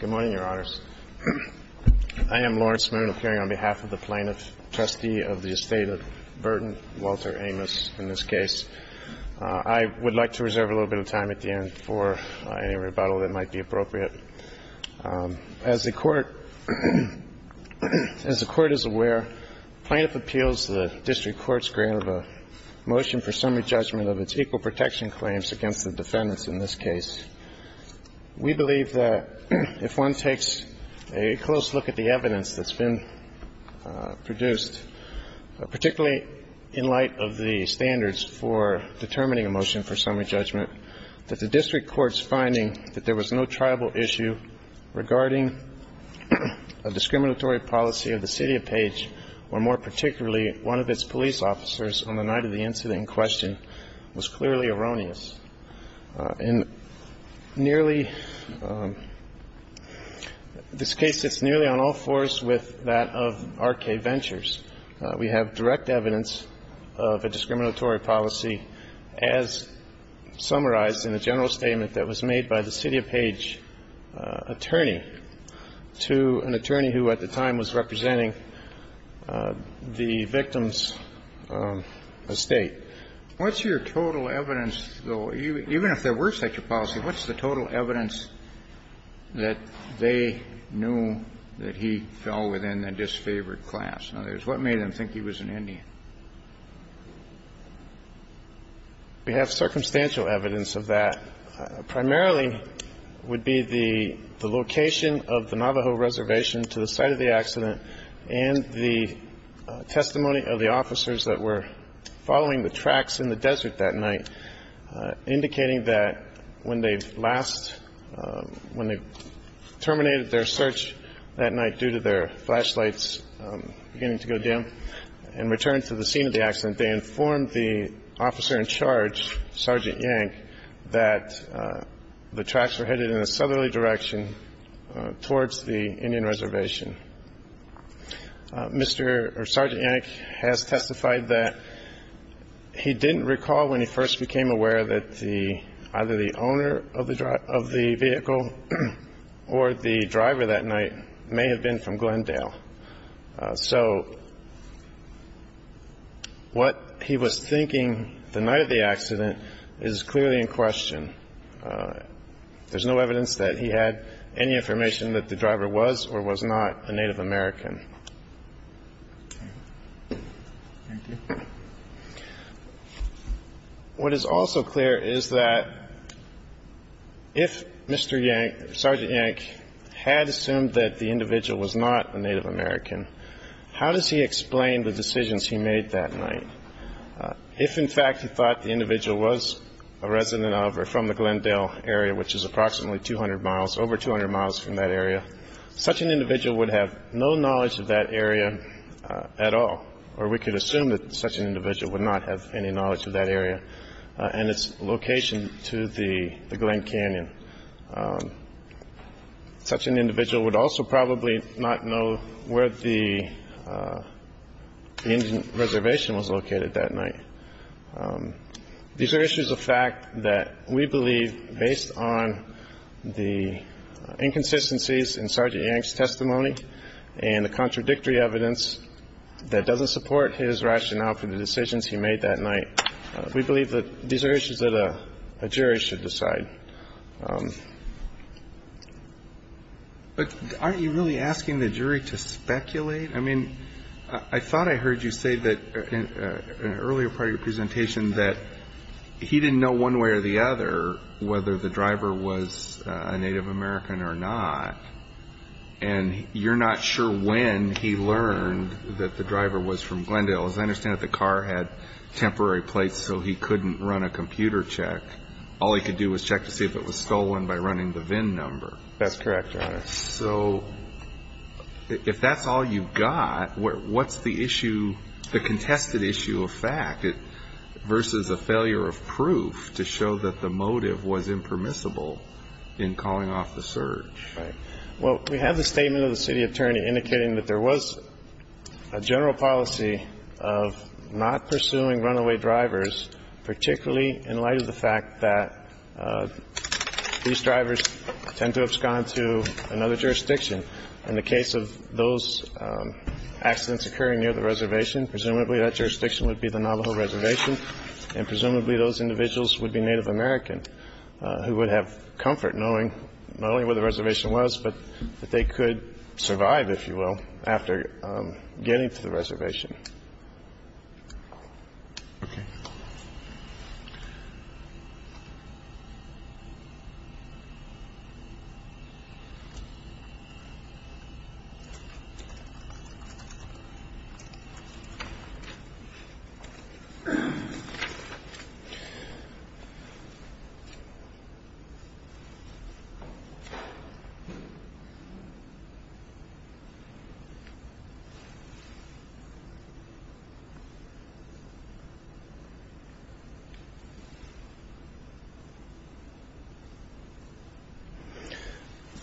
Good morning, Your Honors. I am Lawrence Moon, appearing on behalf of the plaintiff, trustee of the estate of Burton Walter Amos, in this case. I would like to reserve a little bit of time at the end for any rebuttal that might be appropriate. As the court is aware, plaintiff appeals the District Court's grant of a motion for summary judgment of its equal protection claims against the defendants in this case. We believe that if one takes a close look at the evidence that's been produced, particularly in light of the standards for determining a motion for summary judgment, that the District Court's finding that there was no tribal issue regarding a discriminatory policy of the City of Page, or more particularly one of its police officers on the night of the In nearly, this case sits nearly on all fours with that of R.K. Ventures. We have direct evidence of a discriminatory policy as summarized in a general statement that was made by the City of Page attorney to an attorney who at the time was a member of the Navajo Reservation. appropriate to the Court's rebuttal to R.K. Ventures. Even if there were such a policy, what's the total evidence that they knew that he fell within a disfavored class? In other words, what made them think he was an Indian? We have circumstantial evidence of that. Primarily would be the location of the scene of the accident. The scene of the accident was in the desert that night, indicating that when they last, when they terminated their search that night due to their flashlights beginning to go dim and returned to the scene of the accident, they informed the officer in charge, Sergeant Yank, that the tracks were headed in a southerly direction towards the Indian Reservation. Mr. or Sergeant Yank has testified that he didn't recall when he first became aware that either the owner of the vehicle or the driver that night may have been from Glendale. So what he was thinking the night of the accident is clearly in question. There's no evidence that he had any information that the driver was or was not a Native American. What is also clear is that if Mr. Yank, Sergeant Yank, had assumed that the individual was not a Native American, how does he explain the decisions he made that night? If, in fact, he thought the individual was a resident of or from the Glendale area, which is approximately 200 miles, over 200 miles from that area, such an individual would have no knowledge of that area at all, or we could assume that such an individual would not have any knowledge of that area and its location to the Glen Canyon. Such an individual would also probably not know where the Indian Reservation was located that night. These are issues of fact that we believe, based on the inconsistencies in Sergeant Yank's testimony and the contradictory evidence that doesn't support his rationale for the decisions he made that night, we believe that these are issues that a jury should decide. But aren't you really asking the jury to speculate? I mean, I thought I heard you say in an earlier part of your presentation that he didn't know one way or the other whether the driver was a Native American or not, and you're not sure when he learned that the driver was from Glendale. As I understand it, the car had temporary plates so he couldn't run a computer check. All he could do was check to see if it was stolen by running the VIN number. That's correct, Your Honor. So if that's all you've got, what's the issue, the contested issue of fact versus a failure of proof to show that the motive was impermissible in calling off the search? Well, we have the statement of the city attorney indicating that there was a general policy of not pursuing runaway drivers, particularly in light of the fact that these drivers tend to have gone to another jurisdiction. In the case of those accidents occurring near the reservation, presumably that jurisdiction would be the Navajo reservation, and presumably those individuals would be Native American who would have comfort knowing not only where the reservation was, but that they could survive, if you will, after getting to the reservation. Thank you.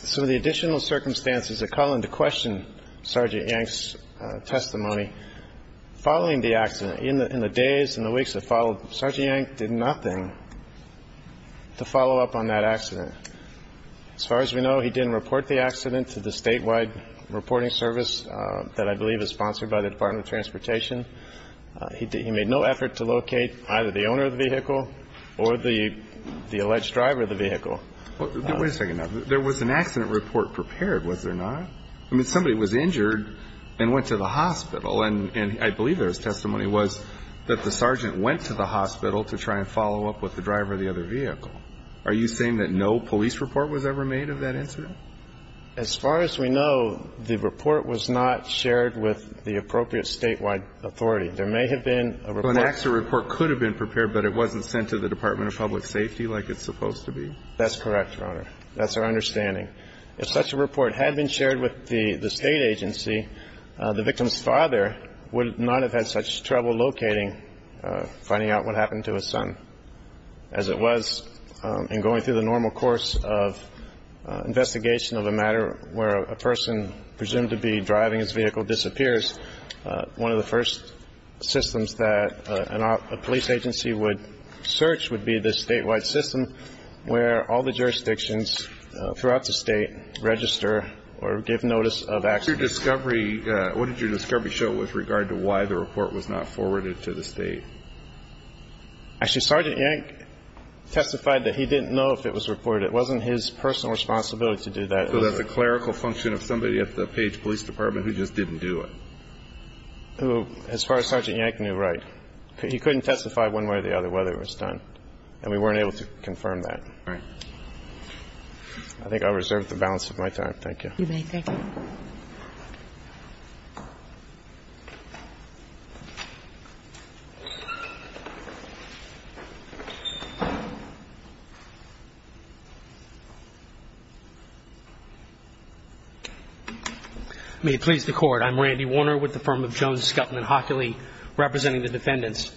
Some of the additional circumstances that call into question Sergeant Yank's testimony following the accident, in the days and the weeks that followed, Sergeant Yank did nothing to follow up on that accident. As far as we know, he didn't report the accident to the statewide reporting service that I believe is sponsored by the Department of Transportation. He made no effort to locate either the owner of the vehicle or the alleged driver of the vehicle. Wait a second. Now, there was an accident report prepared, was there not? I mean, somebody was injured and went to the hospital, and I believe there's testimony was that the sergeant went to the hospital to try and follow up with the driver of the other vehicle. Are you saying that no police report was ever made of that incident? As far as we know, the report was not shared with the appropriate statewide authority. There may have been a report. So an accident report could have been prepared, but it wasn't sent to the Department of Public Safety like it's supposed to be? That's correct, Your Honor. That's our understanding. If such a report had been shared with the State Agency, the victim's father would not have had such trouble locating, finding out what happened to his son. As it was in going through the normal course of investigation of a matter where a person presumed to be driving his vehicle disappears, one of the first systems that a police agency would search would be the statewide system where all the jurisdictions throughout the state register or give notice of accidents. What did your discovery show with regard to why the report was not forwarded to the state? Actually, Sergeant Yank testified that he didn't know if it was reported. It wasn't his personal responsibility to do that. So that's a clerical function of somebody at the Page Police Department who just didn't do it? As far as Sergeant Yank knew, right. He couldn't testify one way or the other whether it was done, and we weren't able to confirm that. Right. I think I'll reserve the balance of my time. Thank you. You may. Thank you. May it please the Court. I'm Randy Warner with the firm of Jones, Scutman, Hockley, representing the defendants.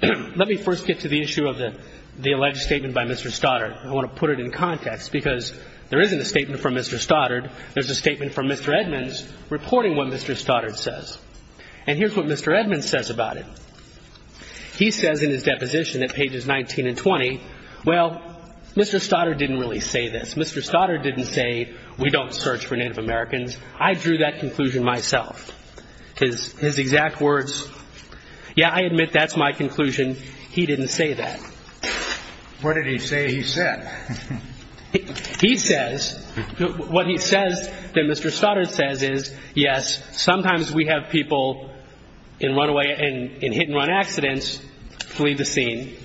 Let me first get to the issue of the alleged statement by Mr. Stoddard. I want to put it in context, because there isn't a statement from Mr. Stoddard. There is a statement from Mr. Edmonds reporting what Mr. Stoddard says. And here's what Mr. Edmonds says about it. He says in his deposition at pages 19 and 20, well, Mr. Stoddard didn't really say this. Mr. Stoddard didn't say we don't search for Native Americans. I drew that conclusion myself. His exact words, yeah, I admit that's my conclusion. He didn't say that. What did he say he said? He says, what he says that Mr. Stoddard says is, yes, sometimes we have people in runaway and hit and run accidents flee the scene.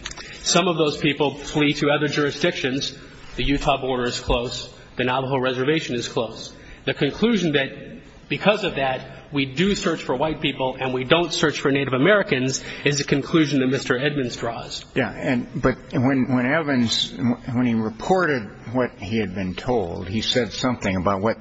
Some of those people flee to other jurisdictions. The Utah border is close. The Navajo reservation is close. The conclusion that because of that, we do search for white people and we don't search for Native Americans is the conclusion that Mr. Edmonds draws. Yeah. And but when when Evans when he reported what he had been told, he said something about what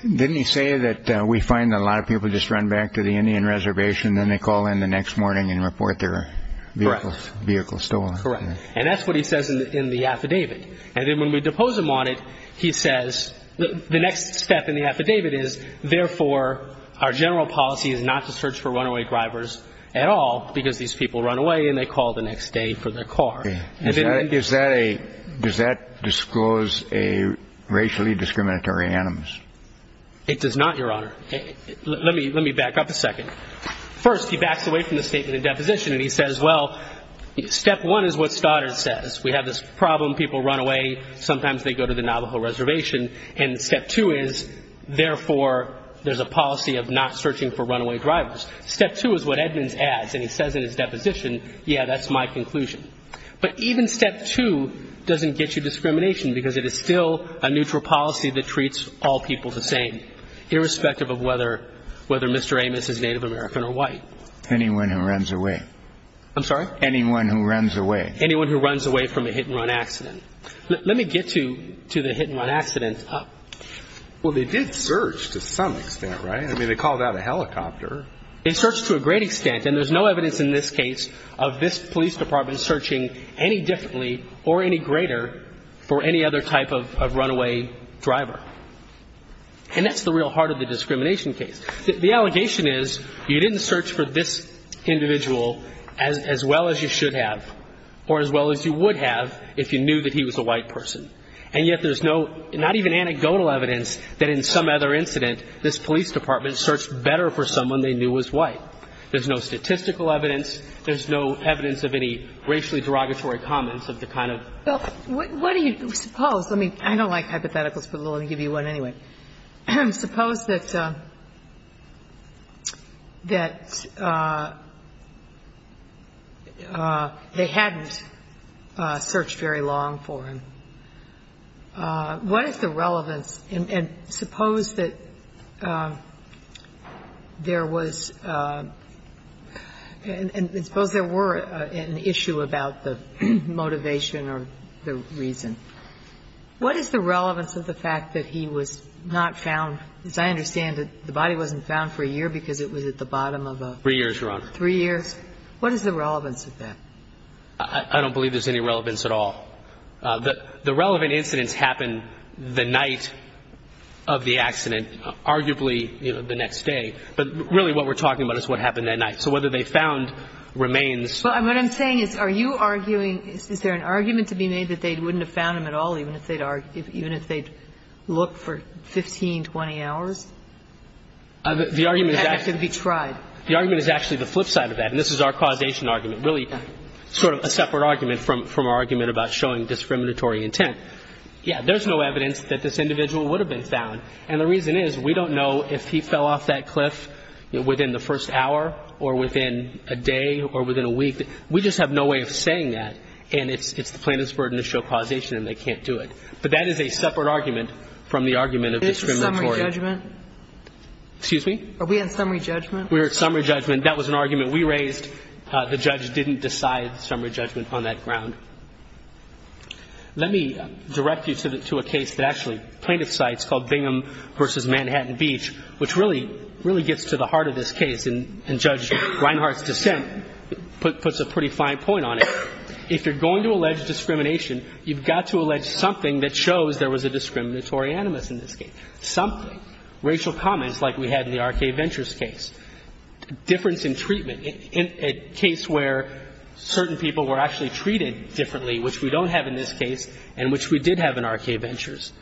didn't he say that we find a lot of people just run back to the Indian reservation, then they call in the next morning and report their vehicle stolen. Correct. And that's what he says in the affidavit. And then when we depose him on it, he says the next step in the affidavit is therefore our general policy is not to search for runaway drivers at all because these people run away and they call the next day for their car. Is that a does that disclose a racially discriminatory animus? It does not, Your Honor. Let me let me back up a second. First, he backs away from the statement of deposition and he says, well, step one is what Stoddard says. We have this problem. People run away. Sometimes they go to the Navajo reservation. And step two is, therefore, there's a policy of not searching for runaway drivers. Step two is what Edmonds adds. And he says in his deposition, yeah, that's my conclusion. But even step two doesn't get you discrimination because it is still a neutral policy that treats all people the same, irrespective of whether whether Mr. Amos is Native American or white. Anyone who runs away. I'm sorry. Anyone who runs away. Anyone who runs away from a hit and run accident. Let me get to to the hit and run accident. Well, they did search to some extent. Right. I mean, they called out a helicopter. They searched to a great extent. And there's no evidence in this case of this police department searching any differently or any greater for any other type of runaway driver. And that's the real heart of the discrimination case. The allegation is you didn't search for this individual as well as you should have or as well as you would have if you knew that he was a white person. And yet there's no, not even anecdotal evidence that in some other incident this police department searched better for someone they knew was white. There's no statistical evidence. There's no evidence of any racially derogatory comments of the kind of Well, what do you suppose? I mean, I don't like hypotheticals, but I'll give you one anyway. Suppose that they hadn't searched very long for him. What is the relevance and suppose that there was, and suppose there were an issue about the motivation or the reason. What is the relevance of the fact that he was, you know, a white As I understand it, the body wasn't found for a year because it was at the bottom of a Three years, Your Honor. Three years. What is the relevance of that? I don't believe there's any relevance at all. The relevant incidents happened the night of the accident, arguably, you know, the next day. But really what we're talking about is what happened that night. So whether they found remains Well, what I'm saying is, are you arguing, is there an argument to be made that they The argument is actually the flip side of that. And this is our causation argument, really sort of a separate argument from our argument about showing discriminatory intent. Yeah, there's no evidence that this individual would have been found. And the reason is, we don't know if he fell off that cliff within the first hour or within a day or within a week. We just have no way of saying that. And it's the plaintiff's burden to show causation, and they can't do it. But that is a separate argument from the argument of the Excuse me? Are we in summary judgment? We're in summary judgment. That was an argument we raised. The judge didn't decide summary judgment on that ground. Let me direct you to a case that actually plaintiff cites called Bingham v. Manhattan Beach, which really gets to the heart of this case. And Judge Reinhart's dissent puts a pretty fine point on it. If you're going to allege discrimination, you've got to allege something that shows there was a discriminatory animus in this case. Something. Racial comments like we had in the R.K. Ventures case. Difference in treatment. In a case where certain people were actually treated differently, which we don't have in this case, and which we did have in R.K. Ventures.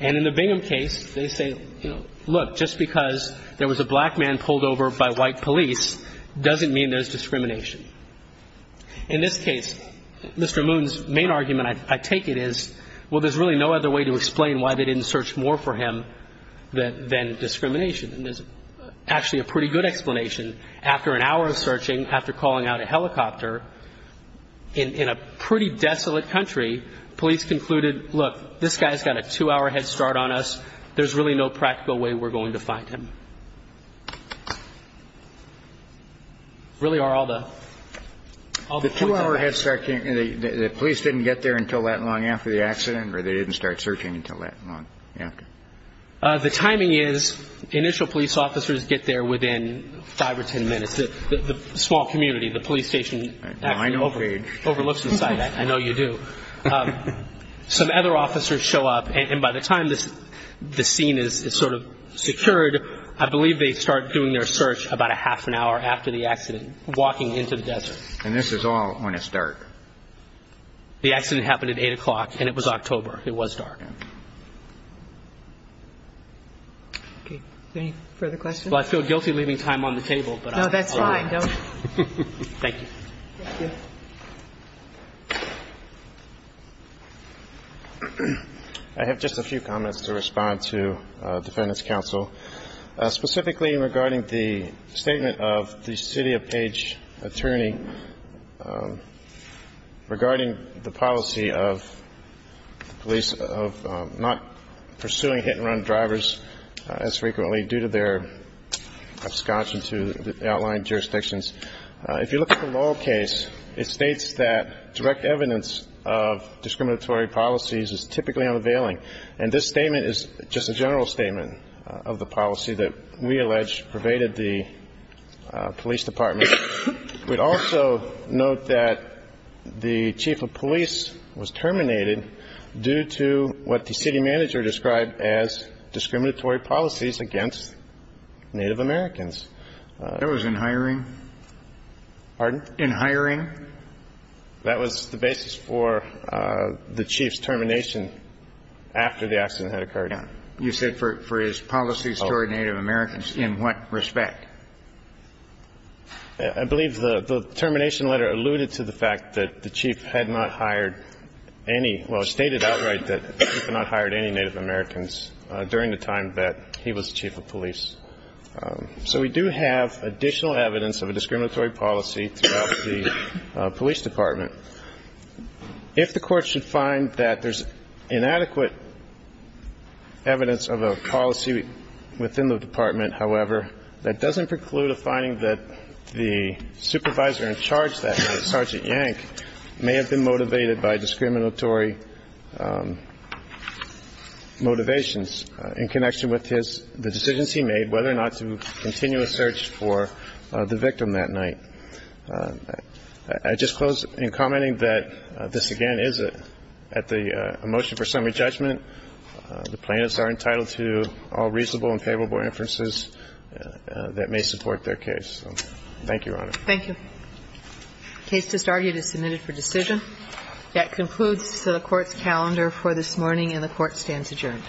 And in the Bingham case, they say, you know, look, just because there was a black man pulled over by white police doesn't mean there's discrimination. In this case, Mr. Moon's main argument, I take it, is, well, there's really no other way to explain why they didn't search more for him than discrimination. And there's actually a pretty good explanation. After an hour of searching, after calling out a helicopter, in a pretty desolate country, police concluded, look, this guy's got a two-hour head start on us. There's really no practical way we're going to find him. Really are all the two-hour head start. The police didn't get there until that long after the accident, or they didn't start searching until that long after? The timing is initial police officers get there within five or ten minutes. The small community, the police station overlooks the site. I know you do. Some other officers show up, and by the time the scene is sort of secured, I believe they start doing their search about a half an hour after the accident, walking into the desert. And this is all when it's dark. The accident happened at 8 o'clock, and it was October. It was dark. Any further questions? Well, I feel guilty leaving time on the table. No, that's fine. Thank you. So specifically regarding the statement of the city of Page attorney regarding the policy of police of not pursuing hit-and-run drivers as frequently due to their abscondence to the outlined jurisdictions, if you look at the lower case, it states that direct evidence of discriminatory policies is typically unavailing. And this statement is just a general statement of the policy that we allege pervaded the police department. We'd also note that the chief of police was terminated due to what the city manager described as discriminatory policies against Native Americans. That was in hiring? Pardon? In hiring? That was the basis for the chief's termination after the accident had occurred. You said for his policies toward Native Americans. In what respect? I believe the termination letter alluded to the fact that the chief had not hired any ñ well, it stated outright that the chief had not hired any Native Americans during the time that he was chief of police. So we do have additional evidence of a discriminatory policy throughout the police department. If the court should find that there's inadequate evidence of a policy within the department, however, that doesn't preclude a finding that the supervisor in charge that night, Sergeant Yank, may have been motivated by discriminatory motivations in connection with his ñ the decisions he made whether or not to continue a search for the victim that night. I'd just close in commenting that this, again, is at the motion for summary judgment. The plaintiffs are entitled to all reasonable and favorable inferences that may support their case. Thank you, Your Honor. Thank you. The case just argued is submitted for decision. That concludes the court's calendar for this morning, and the court stands adjourned. Thank you. Thank you.